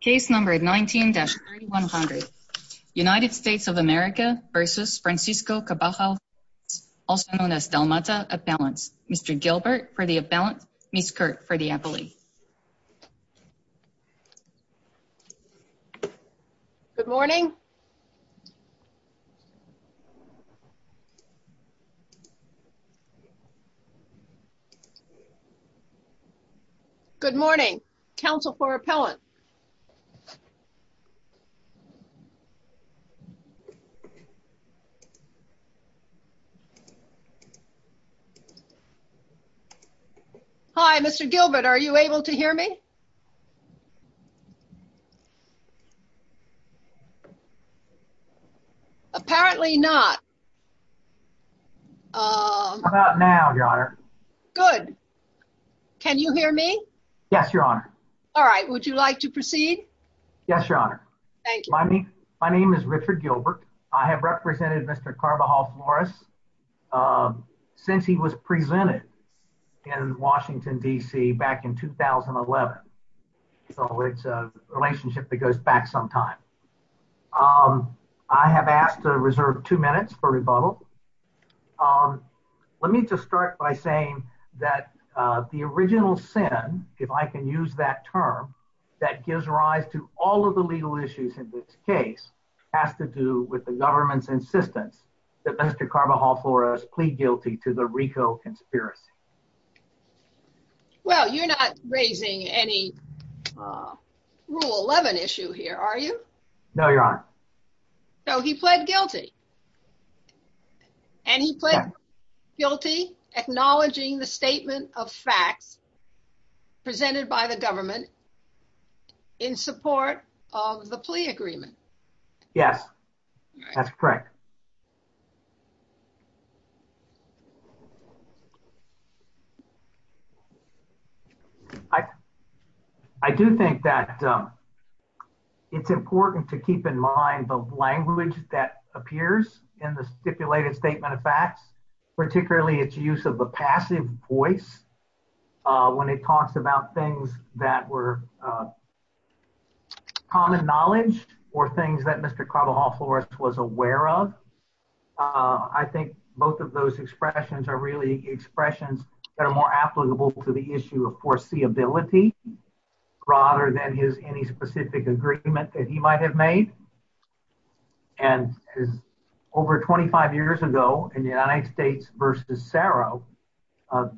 Case number 19-3100 United States of America v. Francisco Cabajal Flores, also known as Delmata Appellants, Mr. Gilbert for the Appellant, Ms. Kirk for the Appellee. Good morning. Good morning. Counsel for Appellant. Hi, Mr. Gilbert, are you able to hear me? Apparently not. How about now, Your Honor? Good. Can you hear me? Yes, Your Honor. All right, would you like to proceed? Yes, Your Honor. Thank you. My name is Richard Gilbert. I have represented Mr. Cabajal Flores since he was presented in Washington, D.C. back in 2011. So it's a relationship that goes back some time. I have asked to reserve two minutes for rebuttal. Let me just start by saying that the original sin, if I can use that term, that gives rise to all of the legal issues in this case has to do with the government's insistence that Mr. Cabajal Flores plead guilty to the RICO conspiracy. Well, you're not raising any Rule 11 issue here, are you? No, Your Honor. So he pled guilty. And he pled guilty acknowledging the statement of facts presented by the government in support of the plea agreement. Yes, that's correct. I do think that it's important to keep in mind the language that appears in the stipulated statement of facts, particularly its use of the passive voice when it talks about things that were common knowledge or things that Mr. Cabajal Flores was aware of. I think both of those expressions are really expressions that are more applicable to the issue of foreseeability rather than his any specific agreement that he might have made. And over 25 years ago in the United States versus Saro,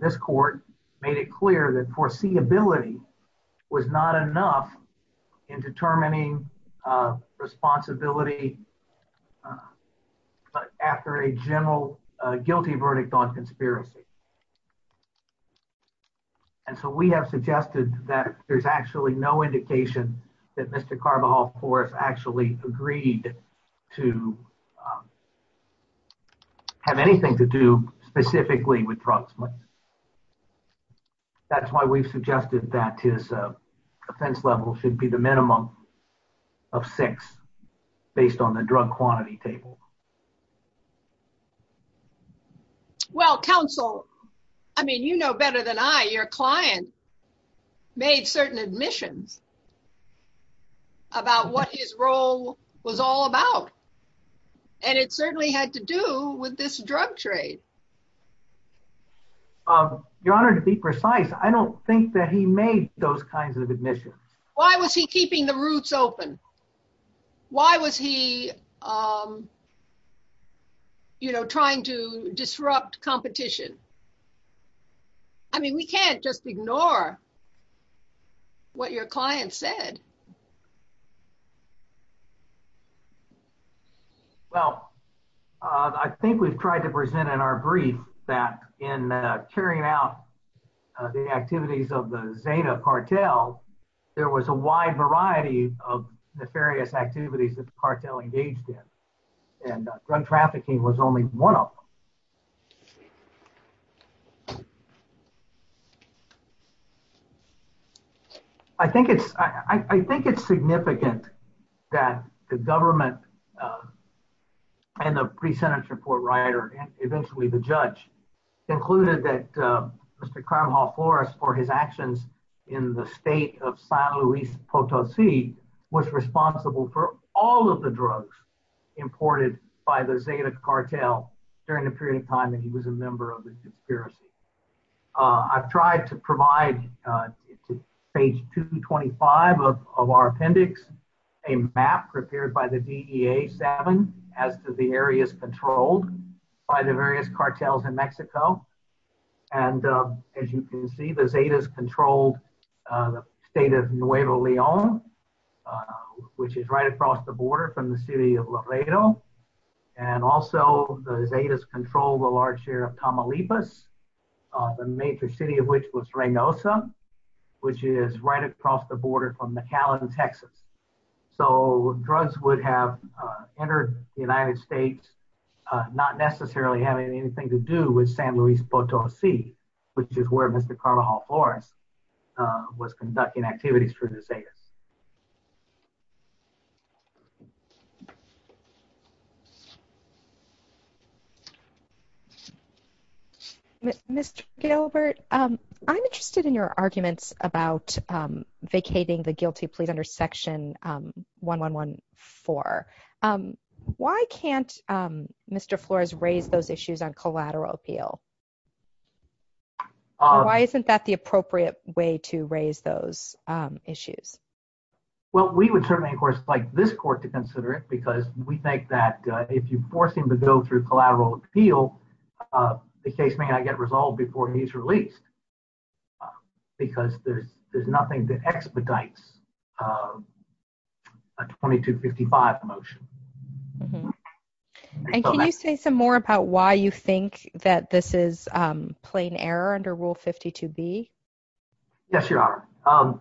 this court made it clear that foreseeability was not enough in determining responsibility after a general guilty verdict on conspiracy. And so we have suggested that there's actually no indication that Mr. Cabajal Flores actually agreed to have anything to do specifically with frauds. That's why we've suggested that his offense level should be the minimum of six based on the drug quantity table. Well, counsel, I mean, you know better than I, your client made certain admissions about what his role was all about. And it certainly had to do with this drug trade. Your Honor, to be precise, I don't think that he made those kinds of admissions. Why was he keeping the roots open? Why was he, you know, trying to disrupt competition? I mean, we can't just ignore what your client said. Well, I think we've tried to present in our brief that in carrying out the activities of the Zeta cartel, there was a wide variety of nefarious activities that the cartel engaged in. And drug trafficking was only one of them. I think it's, I think it's significant that the government and the pre-sentence report writer, and eventually the judge, included that Mr. Cabajal Flores, for his actions in the state of San Luis Potosi, was responsible for all of the drugs imported by the Zeta cartel during the pre-sentence. During the period of time that he was a member of the conspiracy. I've tried to provide, page 225 of our appendix, a map prepared by the DEA, as to the areas controlled by the various cartels in Mexico. And as you can see, the Zetas controlled the state of Nuevo Leon, which is right across the border from the city of Laredo. And also, the Zetas controlled a large share of Tamaulipas, the major city of which was Reynosa, which is right across the border from McAllen, Texas. So, drugs would have entered the United States, not necessarily having anything to do with San Luis Potosi, which is where Mr. Cabajal Flores was conducting activities for the Zetas. Mr. Gilbert, I'm interested in your arguments about vacating the guilty plea under section 1114. Why can't Mr. Flores raise those issues on collateral appeal? Why isn't that the appropriate way to raise those issues? Well, we would certainly, of course, like this court to consider it, because we think that if you force him to go through collateral appeal, the case may not get resolved before he's released. Because there's nothing to expedite a 2255 motion. And can you say some more about why you think that this is plain error under Rule 52B? Yes, Your Honor.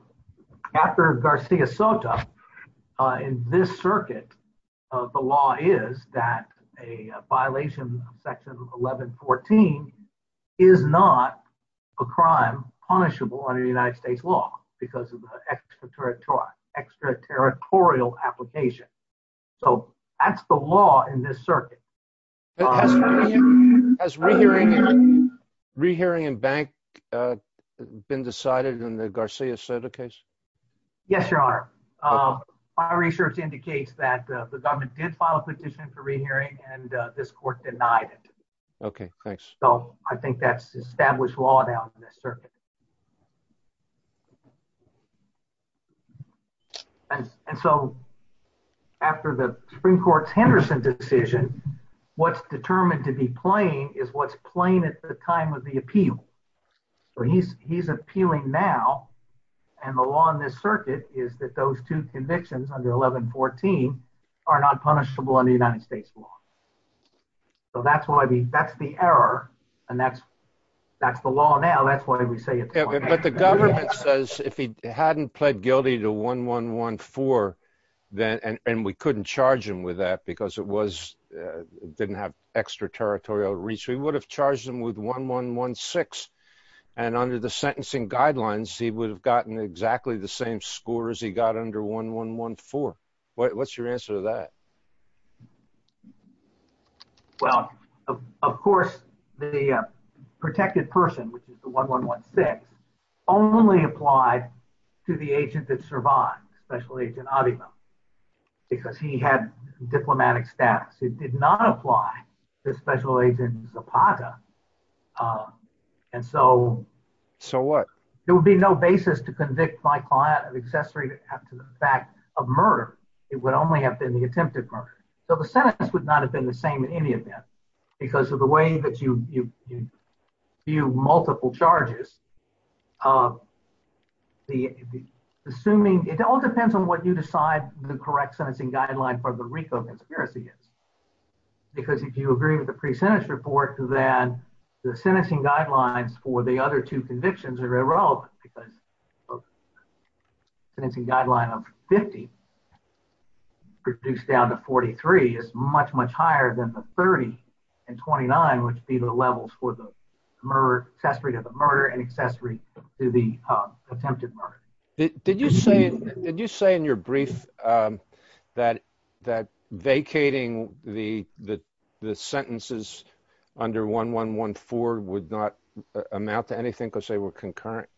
After Garcia Soto, in this circuit, the law is that a violation of section 1114 is not a crime punishable under United States law because of an extraterritorial application. So, that's the law in this circuit. Has re-hearing and bank been decided in the Garcia Soto case? Yes, Your Honor. Our research indicates that the government did file a petition for re-hearing, and this court denied it. Okay, thanks. So, I think that's established law now in this circuit. And so, after the Supreme Court's Henderson decision, what's determined to be plain is what's plain at the time of the appeal. So, he's appealing now, and the law in this circuit is that those two convictions under 1114 are not punishable under United States law. So, that's the error, and that's the law now. That's why we say it's plain. But the government says if he hadn't pled guilty to 1114, and we couldn't charge him with that because it didn't have extraterritorial reach, we would have charged him with 1116. And under the sentencing guidelines, he would have gotten exactly the same score as he got under 1114. What's your answer to that? Well, of course, the protected person, which is the 1116, only applied to the agent that survived, Special Agent Avima, because he had diplomatic status. It did not apply to Special Agent Zapata. So what? There would be no basis to convict my client of accessory to the fact of murder. It would only have been the attempted murder. So the sentence would not have been the same in any event because of the way that you view multiple charges. It all depends on what you decide the correct sentencing guideline for the RICO conspiracy is. Because if you agree with the pre-sentence report, then the sentencing guidelines for the other two convictions are irrelevant because the sentencing guideline of 50, reduced down to 43, is much, much higher than the 30 and 29, which would be the levels for the murder, accessory to the murder, and accessory to the attempted murder. Did you say in your brief that vacating the sentences under 1114 would not amount to anything because they were concurrent?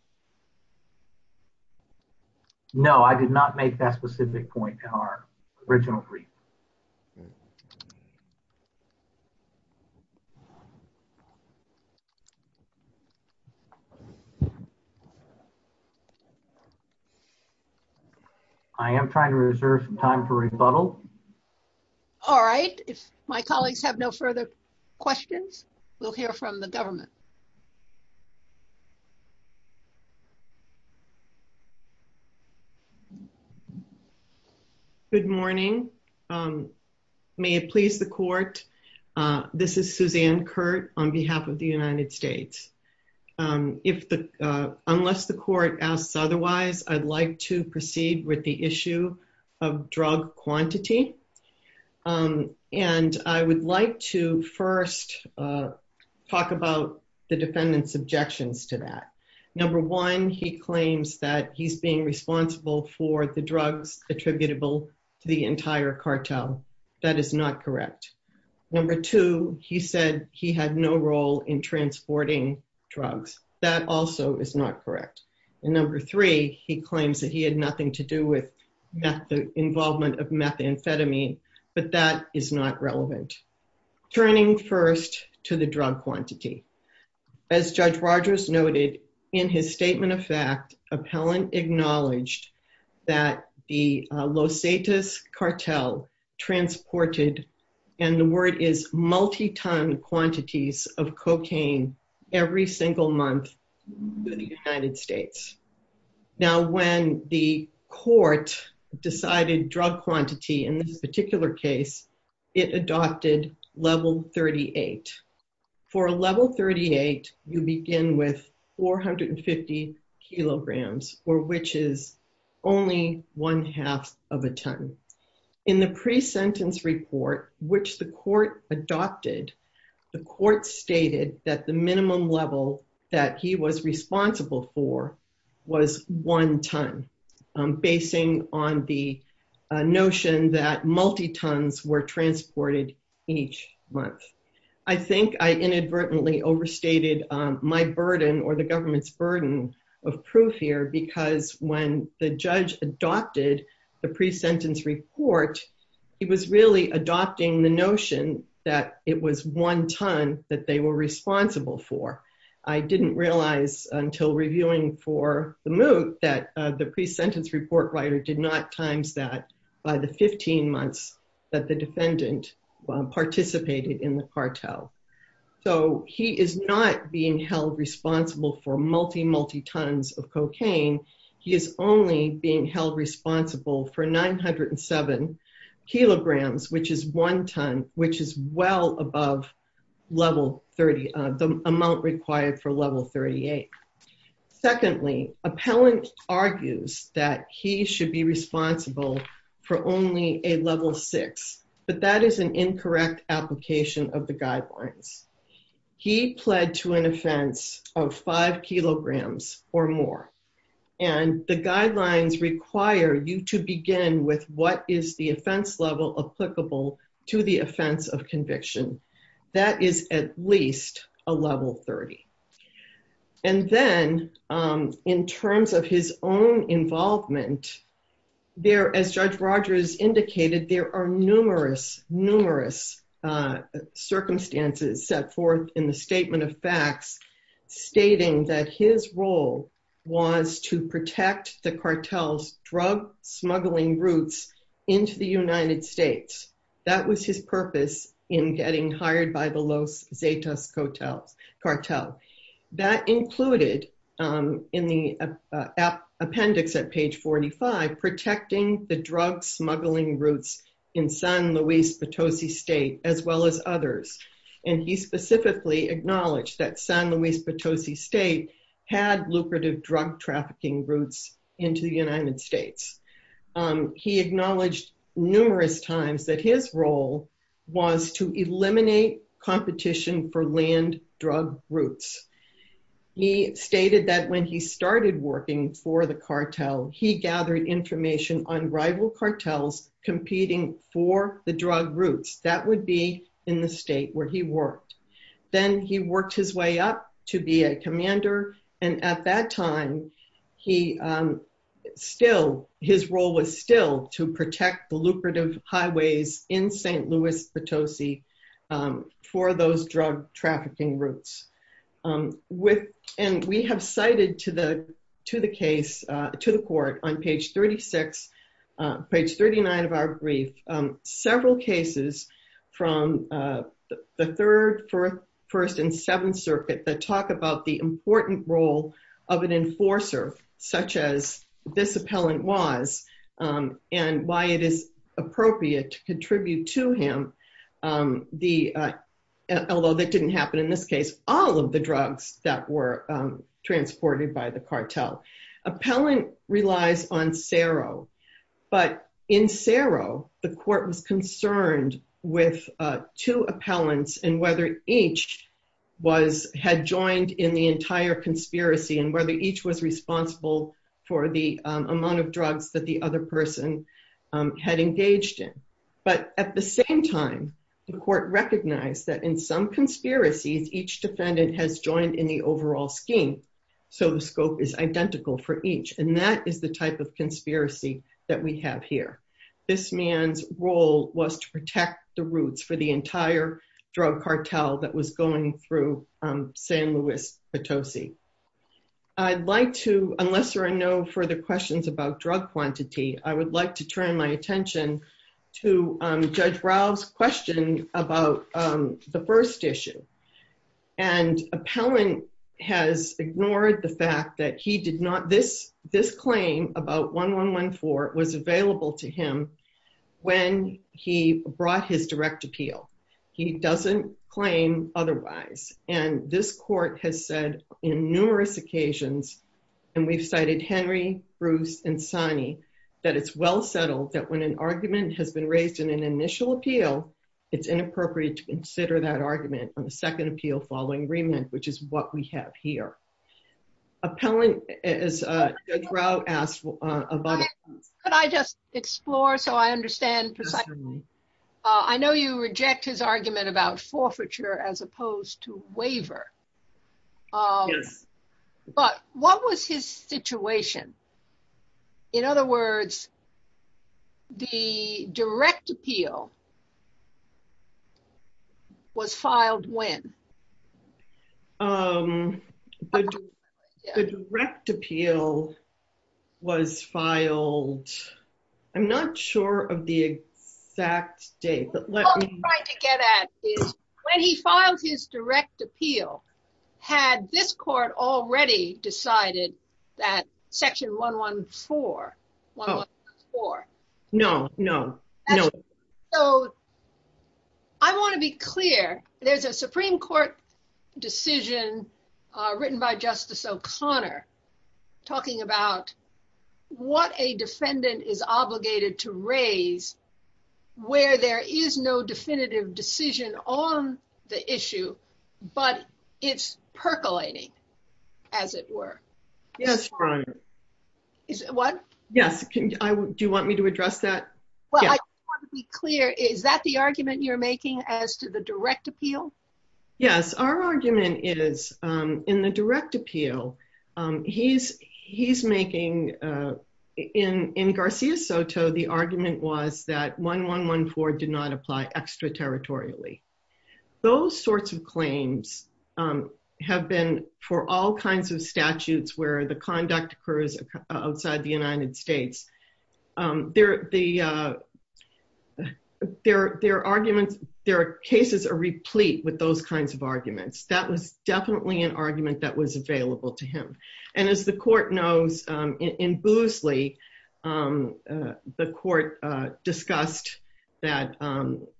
No, I did not make that specific point in our original brief. I am trying to reserve some time for rebuttal. All right. If my colleagues have no further questions, we'll hear from the government. Good morning. May it please the court, this is Suzanne Kurt on behalf of the United States. Unless the court asks otherwise, I'd like to proceed with the issue of drug quantity. And I would like to first talk about the defendant's objections to that. Number one, he claims that he's being responsible for the drugs attributable to the entire cartel. That is not correct. Number two, he said he had no role in transporting drugs. That also is not correct. And number three, he claims that he had nothing to do with the involvement of methamphetamine, but that is not relevant. Turning first to the drug quantity. As Judge Rogers noted in his statement of fact, appellant acknowledged that the Los Atis cartel transported, and the word is multi-ton quantities of cocaine every single month to the United States. Now when the court decided drug quantity in this particular case, it adopted level 38. For a level 38, you begin with 450 kilograms, or which is only one half of a ton. In the pre-sentence report, which the court adopted, the court stated that the minimum level that he was responsible for was one ton. Basing on the notion that multi-tons were transported each month. I think I inadvertently overstated my burden or the government's burden of proof here because when the judge adopted the pre-sentence report, he was really adopting the notion that it was one ton that they were responsible for. I didn't realize until reviewing for the moot that the pre-sentence report writer did not times that by the 15 months that the defendant participated in the cartel. So he is not being held responsible for multi, multi-tons of cocaine. He is only being held responsible for 907 kilograms, which is one ton, which is well above the amount required for level 38. Secondly, appellant argues that he should be responsible for only a level six, but that is an incorrect application of the guidelines. He pled to an offense of five kilograms or more. And the guidelines require you to begin with what is the offense level applicable to the offense of conviction. That is at least a level 30. And then in terms of his own involvement, there, as Judge Rogers indicated, there are numerous, numerous circumstances set forth in the Statement of Facts, stating that his role was to protect the cartel's drug smuggling routes into the United States. That was his purpose in getting hired by the Los Zetas cartel. That included in the appendix at page 45, protecting the drug smuggling routes in San Luis Potosi State, as well as others. And he specifically acknowledged that San Luis Potosi State had lucrative drug trafficking routes into the United States. He acknowledged numerous times that his role was to eliminate competition for land drug routes. He stated that when he started working for the cartel, he gathered information on rival cartels competing for the drug routes. That would be in the state where he worked. Then he worked his way up to be a commander. And at that time, he still, his role was still to protect the lucrative highways in San Luis Potosi for those drug trafficking routes. And we have cited to the case, to the court on page 36, page 39 of our brief, several cases from the Third, Fourth, First, and Seventh Circuit that talk about the important role of an enforcer, such as this appellant was, and why it is appropriate to contribute to him the, although that didn't happen in this case, all of the drugs that were transported by the cartel. Appellant relies on CERO, but in CERO, the court was concerned with two appellants and whether each was, had joined in the entire conspiracy and whether each was responsible for the amount of drugs that the other person had engaged in. But at the same time, the court recognized that in some conspiracies, each defendant has joined in the overall scheme. So the scope is identical for each, and that is the type of conspiracy that we have here. This man's role was to protect the routes for the entire drug cartel that was going through San Luis Potosi. I'd like to, unless there are no further questions about drug quantity, I would like to turn my attention to Judge Ralph's question about the first issue. And appellant has ignored the fact that he did not, this claim about 1114 was available to him when he brought his direct appeal. He doesn't claim otherwise. And this court has said in numerous occasions, and we've cited Henry, Bruce, and Sonny, that it's well settled that when an argument has been raised in an initial appeal, it's inappropriate to consider that argument on the second appeal following agreement, which is what we have here. Appellant, as Judge Ralph asked about it. Could I just explore so I understand precisely? I know you reject his argument about forfeiture as opposed to waiver. Yes. But what was his situation? In other words, the direct appeal was filed when? The direct appeal was filed. I'm not sure of the exact date. What I'm trying to get at is when he filed his direct appeal, had this court already decided that section 114, 114. No, no, no. So. I want to be clear. There's a Supreme Court decision written by Justice O'Connor talking about what a defendant is obligated to raise where there is no definitive decision on the issue, but it's percolating, as it were. Yes. What? Yes. Do you want me to address that? Well, I want to be clear. Is that the argument you're making as to the direct appeal? Yes, our argument is in the direct appeal, he's making, in Garcia Soto, the argument was that 1114 did not apply extraterritorially. Those sorts of claims have been for all kinds of statutes where the conduct occurs outside the United States. There are cases replete with those kinds of arguments. That was definitely an argument that was available to him. And as the court knows, in Boosley, the court discussed that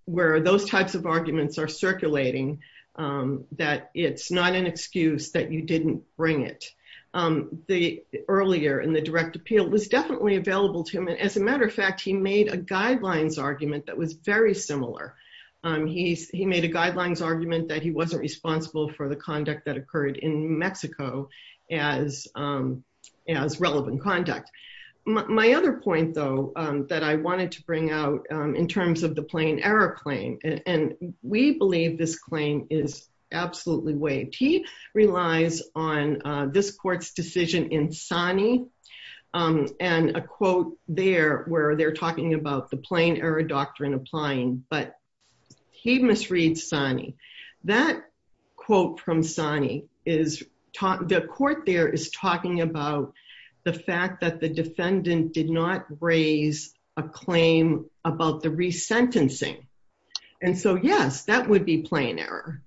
where those types of arguments are circulating, that it's not an excuse that you didn't bring it. The earlier in the direct appeal was definitely available to him. And as a matter of fact, he made a guidelines argument that was very similar. He made a guidelines argument that he wasn't responsible for the conduct that occurred in Mexico as relevant conduct. My other point, though, that I wanted to bring out in terms of the plain error claim, and we believe this claim is absolutely waived. He relies on this court's decision in Sani and a quote there where they're talking about the plain error doctrine applying, but he misread Sani. That quote from Sani, the court there is talking about the fact that the defendant did not raise a claim about the resentencing. And so, yes, that would be plain error.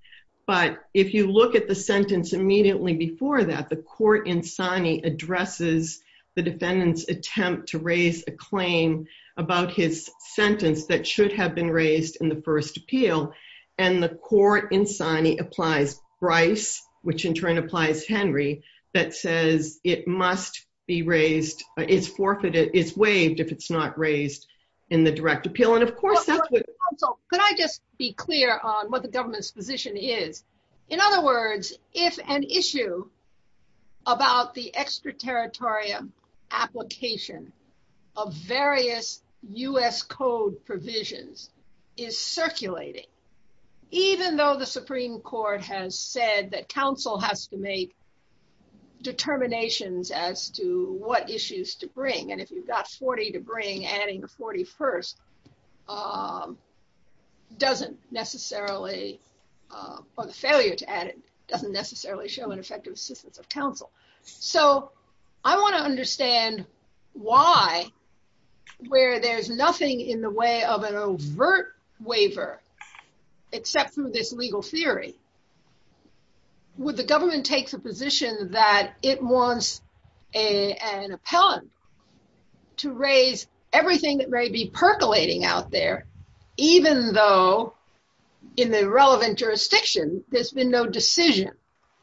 But if you look at the sentence immediately before that, the court in Sani addresses the defendant's attempt to raise a claim about his sentence that should have been raised in the first appeal, and the court in Sani applies Bryce, which in turn applies Henry, that says it must be raised, is forfeited, is waived if it's not raised in the direct appeal. And, of course, that would Counsel, could I just be clear on what the government's position is? In other words, if an issue about the extraterritorial application of various US code provisions is circulating, even though the Supreme Court has said that counsel has to make determinations as to what issues to bring, and if you've got 40 to bring adding the 41st doesn't necessarily, or the failure to add it doesn't necessarily show an effective assistance of counsel. So, I want to understand why, where there's nothing in the way of an overt waiver, except through this legal theory, would the government take the position that it wants an appellant to raise everything that may be percolating out there, even though in the relevant jurisdiction, there's been no decision,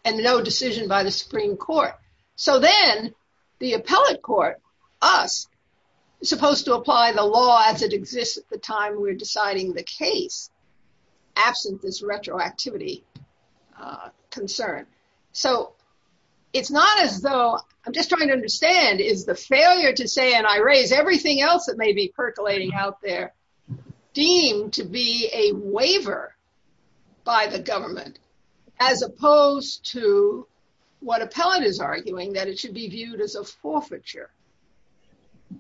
and no decision by the Supreme Court. So then the appellant court, us, is supposed to apply the law as it exists at the time we're deciding the case, absent this retroactivity concern. So, it's not as though, I'm just trying to understand, is the failure to say, and I raise everything else that may be percolating out there, deemed to be a waiver by the government, as opposed to what appellant is arguing that it should be viewed as a forfeiture.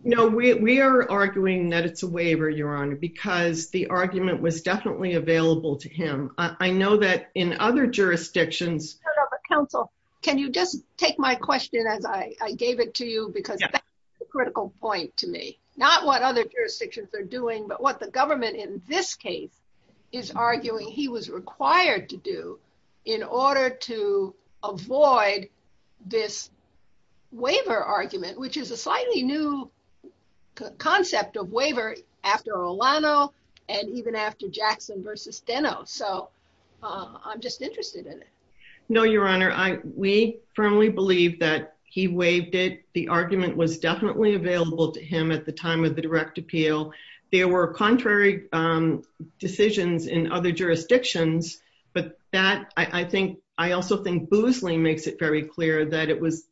No, we are arguing that it's a waiver, Your Honor, because the argument was definitely available to him. I know that in other jurisdictions. Counsel, can you just take my question as I gave it to you because that's a critical point to me, not what other jurisdictions are doing, but what the government in this case is arguing he was required to do in order to avoid this waiver argument, which is a slightly new concept of waiver after Olano, and even after Jackson versus Deno. So, I'm just interested in it. No, Your Honor, we firmly believe that he waived it. The argument was definitely available to him at the time of the direct appeal. There were contrary decisions in other jurisdictions, but that, I think, I also think Boosley makes it very clear that it was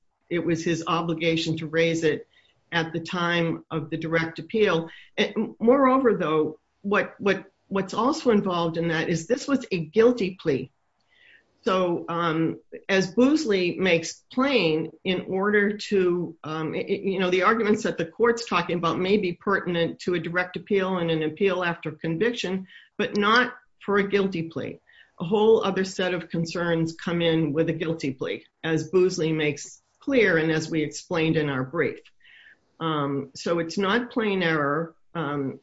his obligation to raise it at the time of the direct appeal. Moreover, though, what's also involved in that is this was a guilty plea. So, as Boosley makes plain in order to, you know, the arguments that the court's talking about may be pertinent to a direct appeal and an appeal after conviction, but not for a guilty plea. A whole other set of concerns come in with a guilty plea, as Boosley makes clear and as we explained in our brief. So, it's not plain error.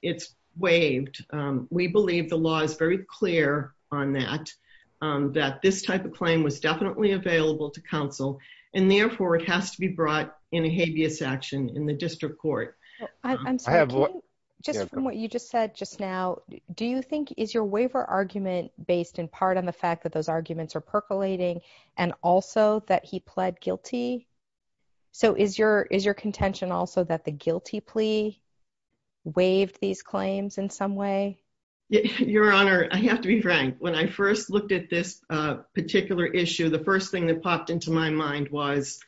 It's waived. We believe the law is very clear on that, that this type of claim was definitely available to counsel, and therefore it has to be brought in a habeas action in the district court. I'm sorry, just from what you just said just now, do you think, is your waiver argument based in part on the fact that those arguments are percolating and also that he pled guilty? So, is your contention also that the guilty plea waived these claims in some way? Your Honor, I have to be frank. When I first looked at this particular issue, the first thing that popped into my mind was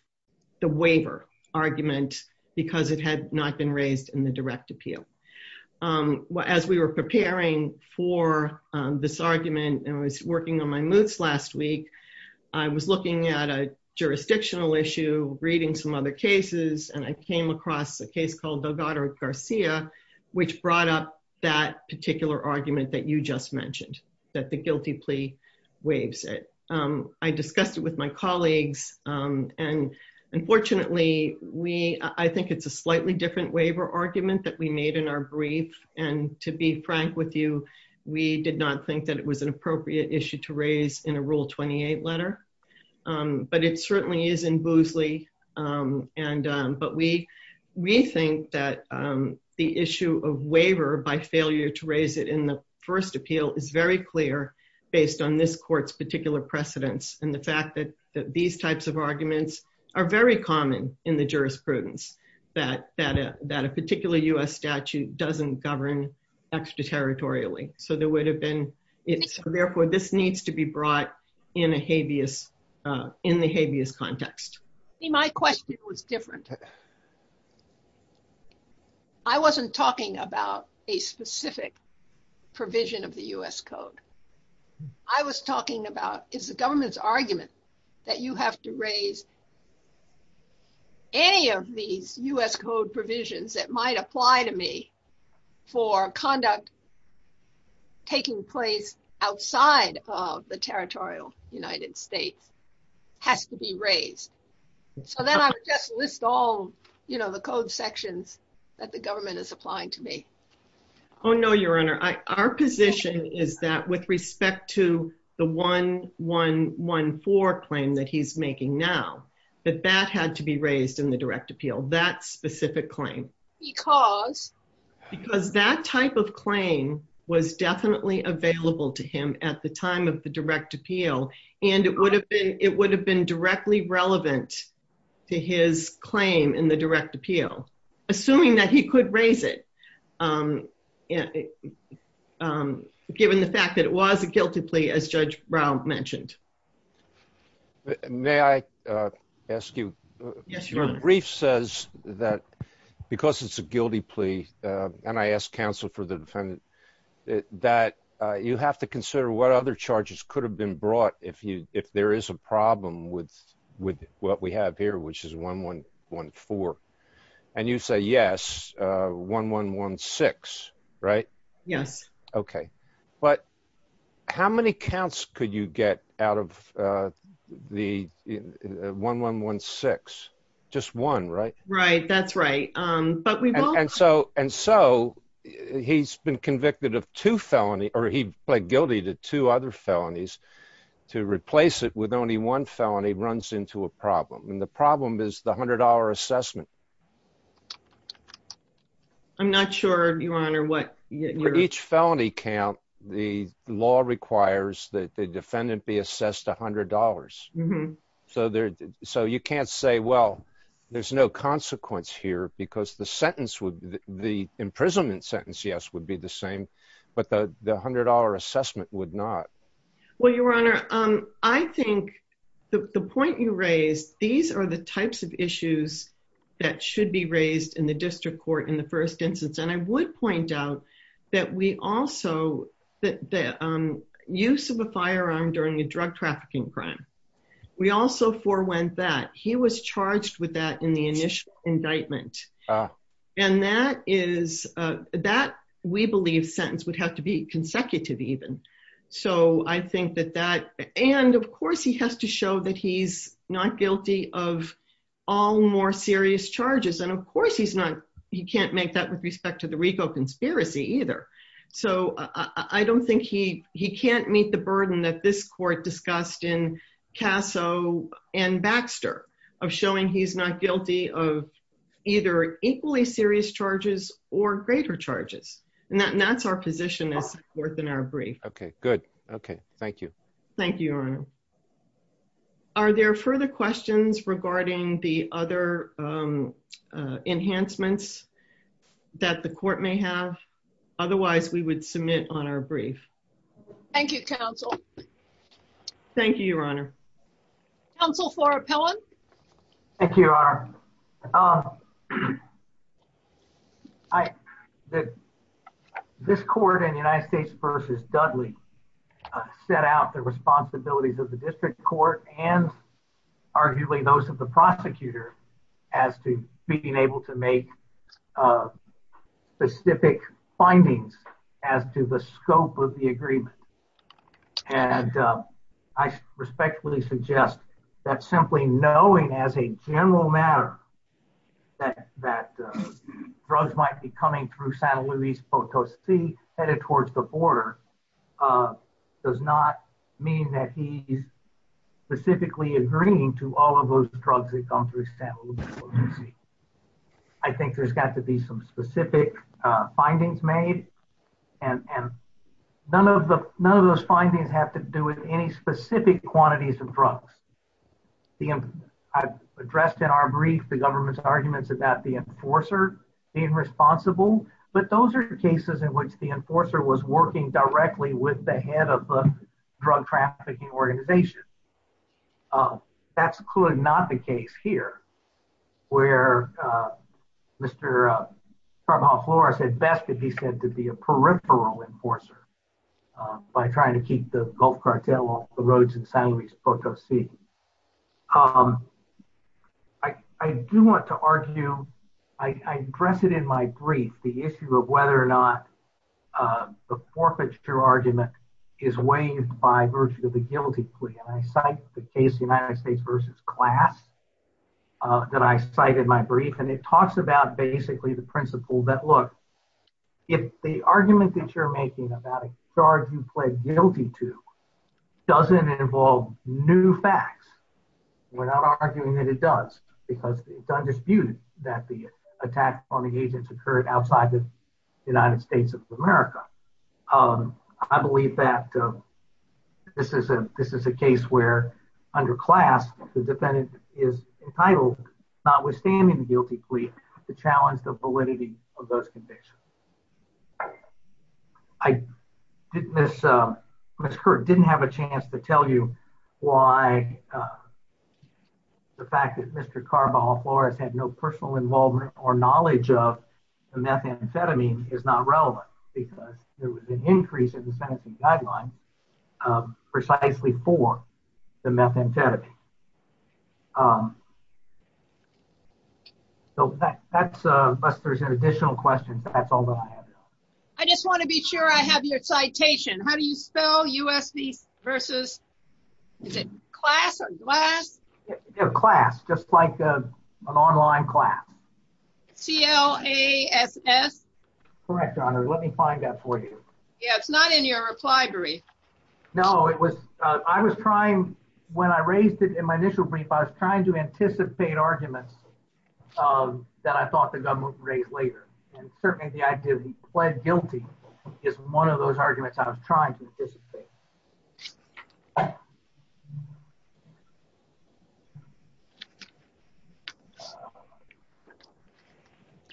the waiver argument because it had not been raised in the direct appeal. As we were preparing for this argument and I was working on my moots last week, I was looking at a jurisdictional issue, reading some other cases, and I came across a case called Delgado Garcia, which brought up that particular argument that you just mentioned, that the guilty plea waives it. I discussed it with my colleagues, and unfortunately, I think it's a slightly different waiver argument that we made in our brief, and to be frank with you, we did not think that it was an appropriate issue to raise in a Rule 28 letter. But it certainly is in Boozley, but we think that the issue of waiver by failure to raise it in the first appeal is very clear based on this court's particular precedence and the fact that these types of arguments are very common in the jurisprudence, that a particular U.S. statute doesn't govern extraterritorially. So therefore, this needs to be brought in the habeas context. My question was different. I wasn't talking about a specific provision of the U.S. Code. I was talking about is the government's argument that you have to raise any of these U.S. Code provisions that might apply to me for conduct taking place outside of the territorial United States has to be raised. So then I would just list all the code sections that the government is applying to me. Oh, no, Your Honor. Our position is that with respect to the 1114 claim that he's making now, that that had to be raised in the direct appeal, that specific claim. Because? Because that type of claim was definitely available to him at the time of the direct appeal, and it would have been directly relevant to his claim in the direct appeal, assuming that he could raise it, given the fact that it was a guilty plea, as Judge Brown mentioned. May I ask you? Yes, Your Honor. The brief says that because it's a guilty plea, and I asked counsel for the defendant, that you have to consider what other charges could have been brought if there is a problem with what we have here, which is 1114. And you say, yes, 1116, right? Yes. Okay. But how many counts could you get out of the 1116? Just one, right? Right. That's right. But we will. And so he's been convicted of two felonies, or he pled guilty to two other felonies. To replace it with only one felony runs into a problem. And the problem is the $100 assessment. I'm not sure, Your Honor, what... For each felony count, the law requires that the defendant be assessed $100. So you can't say, well, there's no consequence here, because the sentence would be, the imprisonment sentence, yes, would be the same, but the $100 assessment would not. Well, Your Honor, I think the point you raised, these are the types of issues that should be raised in the district court in the first instance. And I would point out that we also, that the use of a firearm during a drug trafficking crime, we also forewent that. He was charged with that in the initial indictment. And that is, that, we believe, sentence would have to be consecutive even. So I think that that, and of course, he has to show that he's not guilty of all more serious charges. And of course, he's not, he can't make that with respect to the RICO conspiracy either. So I don't think he, he can't meet the burden that this court discussed in Casso and Baxter of showing he's not guilty of either equally serious charges or greater charges. And that's our position as a court in our brief. Okay, good. Okay. Thank you. Thank you, Your Honor. Are there further questions regarding the other enhancements that the court may have? Otherwise, we would submit on our brief. Thank you, counsel. Thank you, Your Honor. Counsel Flora Pillen. Thank you, Your Honor. This court in the United States versus Dudley set out the responsibilities of the district court and arguably those of the prosecutor as to being able to make specific findings as to the scope of the agreement. And I respectfully suggest that simply knowing as a general matter that drugs might be coming through San Luis Potosi headed towards the border does not mean that he's specifically agreeing to all of those drugs that come through San Luis Potosi. I think there's got to be some specific findings made and none of those findings have to do with any specific quantities of drugs. I've addressed in our brief the government's arguments about the enforcer being responsible, but those are cases in which the enforcer was working directly with the head of the drug trafficking organization. That's clearly not the case here where Mr. Flora said best that he said to be a peripheral enforcer by trying to keep the Gulf cartel off the roads in San Luis Potosi. I do want to argue, I addressed it in my brief, the issue of whether or not the forfeiture argument is waived by virtue of the guilty plea. And I cite the case United States versus class that I cite in my brief and it talks about basically the principle that, look, if the argument that you're making about a charge you pled guilty to doesn't involve new facts, we're not arguing that it does, because it's undisputed that the attack on the agents occurred outside the United States of America. I believe that this is a case where under class the defendant is entitled, notwithstanding the guilty plea, to challenge the validity of those convictions. I didn't have a chance to tell you why the fact that Mr. Carbajal Flores had no personal involvement or knowledge of the methamphetamine is not relevant because there was an increase in the sentencing guideline precisely for the methamphetamine. So unless there's additional questions, that's all that I have. I just want to be sure I have your citation. How do you spell U.S. versus, is it class or glass? Class, just like an online class. C-L-A-S-S? Correct, Your Honor. Let me find that for you. Yeah, it's not in your reply brief. No, it was, I was trying, when I raised it in my initial brief, I was trying to anticipate arguments that I thought the government would raise later. And certainly the idea that he pled guilty is one of those arguments I was trying to anticipate.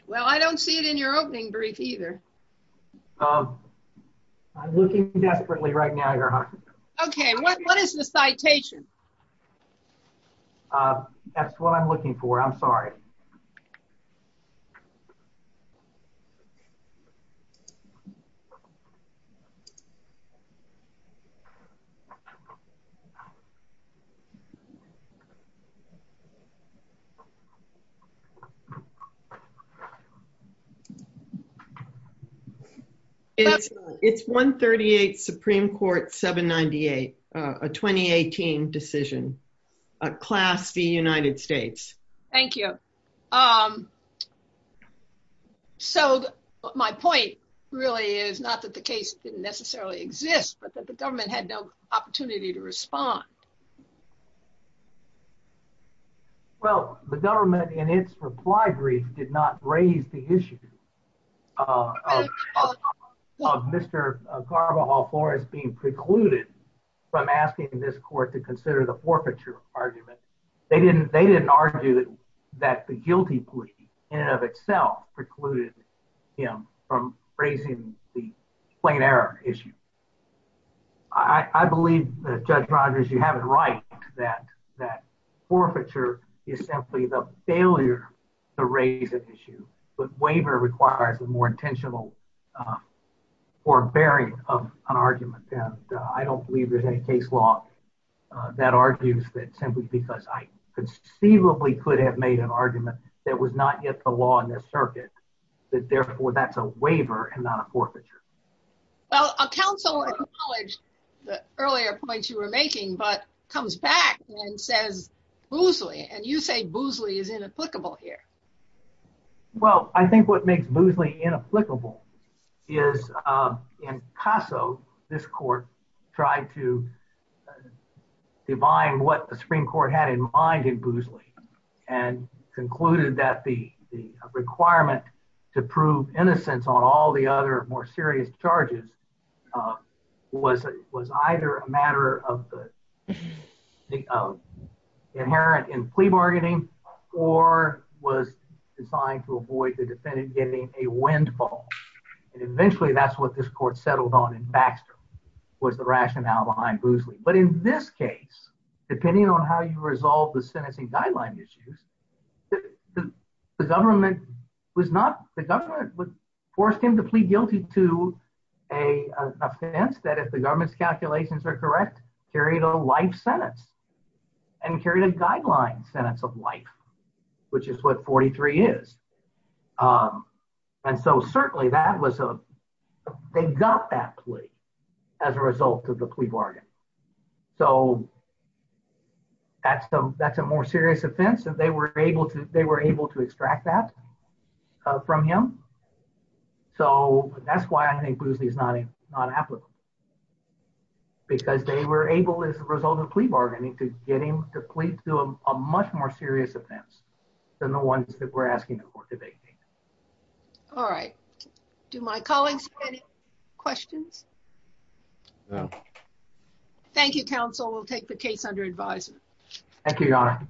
Well, I don't see it in your opening brief either. I'm looking desperately right now, Your Honor. Okay, what is the citation? That's what I'm looking for. I'm sorry. It's 138 Supreme Court 798, a 2018 decision. Class, the United States. Thank you. So my point really is not that the case didn't necessarily exist, but that the government had no opportunity to respond. Well, the government in its reply brief did not raise the issue of Mr. Carvajal Flores being precluded from asking this court to consider the forfeiture argument. They didn't argue that the guilty plea in and of itself precluded him from raising the plain error issue. I believe, Judge Rodgers, you have it right that forfeiture is simply the failure to raise an issue, but waiver requires a more intentional forbearing of an argument. And I don't believe there's any case law that argues that simply because I conceivably could have made an argument that was not yet the law in this circuit, that therefore that's a waiver and not a forfeiture. Well, a counsel acknowledged the earlier points you were making, but comes back and says Boosley, and you say Boosley is inapplicable here. Well, I think what makes Boosley inapplicable is in Caso, this court tried to divine what the Supreme Court had in mind in Boosley and concluded that the requirement to prove innocence on all the other more serious charges was either a matter of the inherent in plea bargaining or was designed to avoid the defendant getting a windfall. And eventually that's what this court settled on in Baxter was the rationale behind Boosley. But in this case, depending on how you resolve the sentencing guideline issues, the government forced him to plead guilty to an offense that if the government's calculations are correct, carried a life sentence and carried a guideline sentence of life, which is what 43 is. And so certainly that was a, they got that plea as a result of the plea bargain. So that's a more serious offense and they were able to extract that from him. So that's why I think Boosley is not inapplicable. Because they were able as a result of plea bargaining to get him to plead to a much more serious offense than the ones that we're asking for today. All right. Do my colleagues have any questions? No. Thank you, counsel. We'll take the case under advisement. Thank you, Your Honor.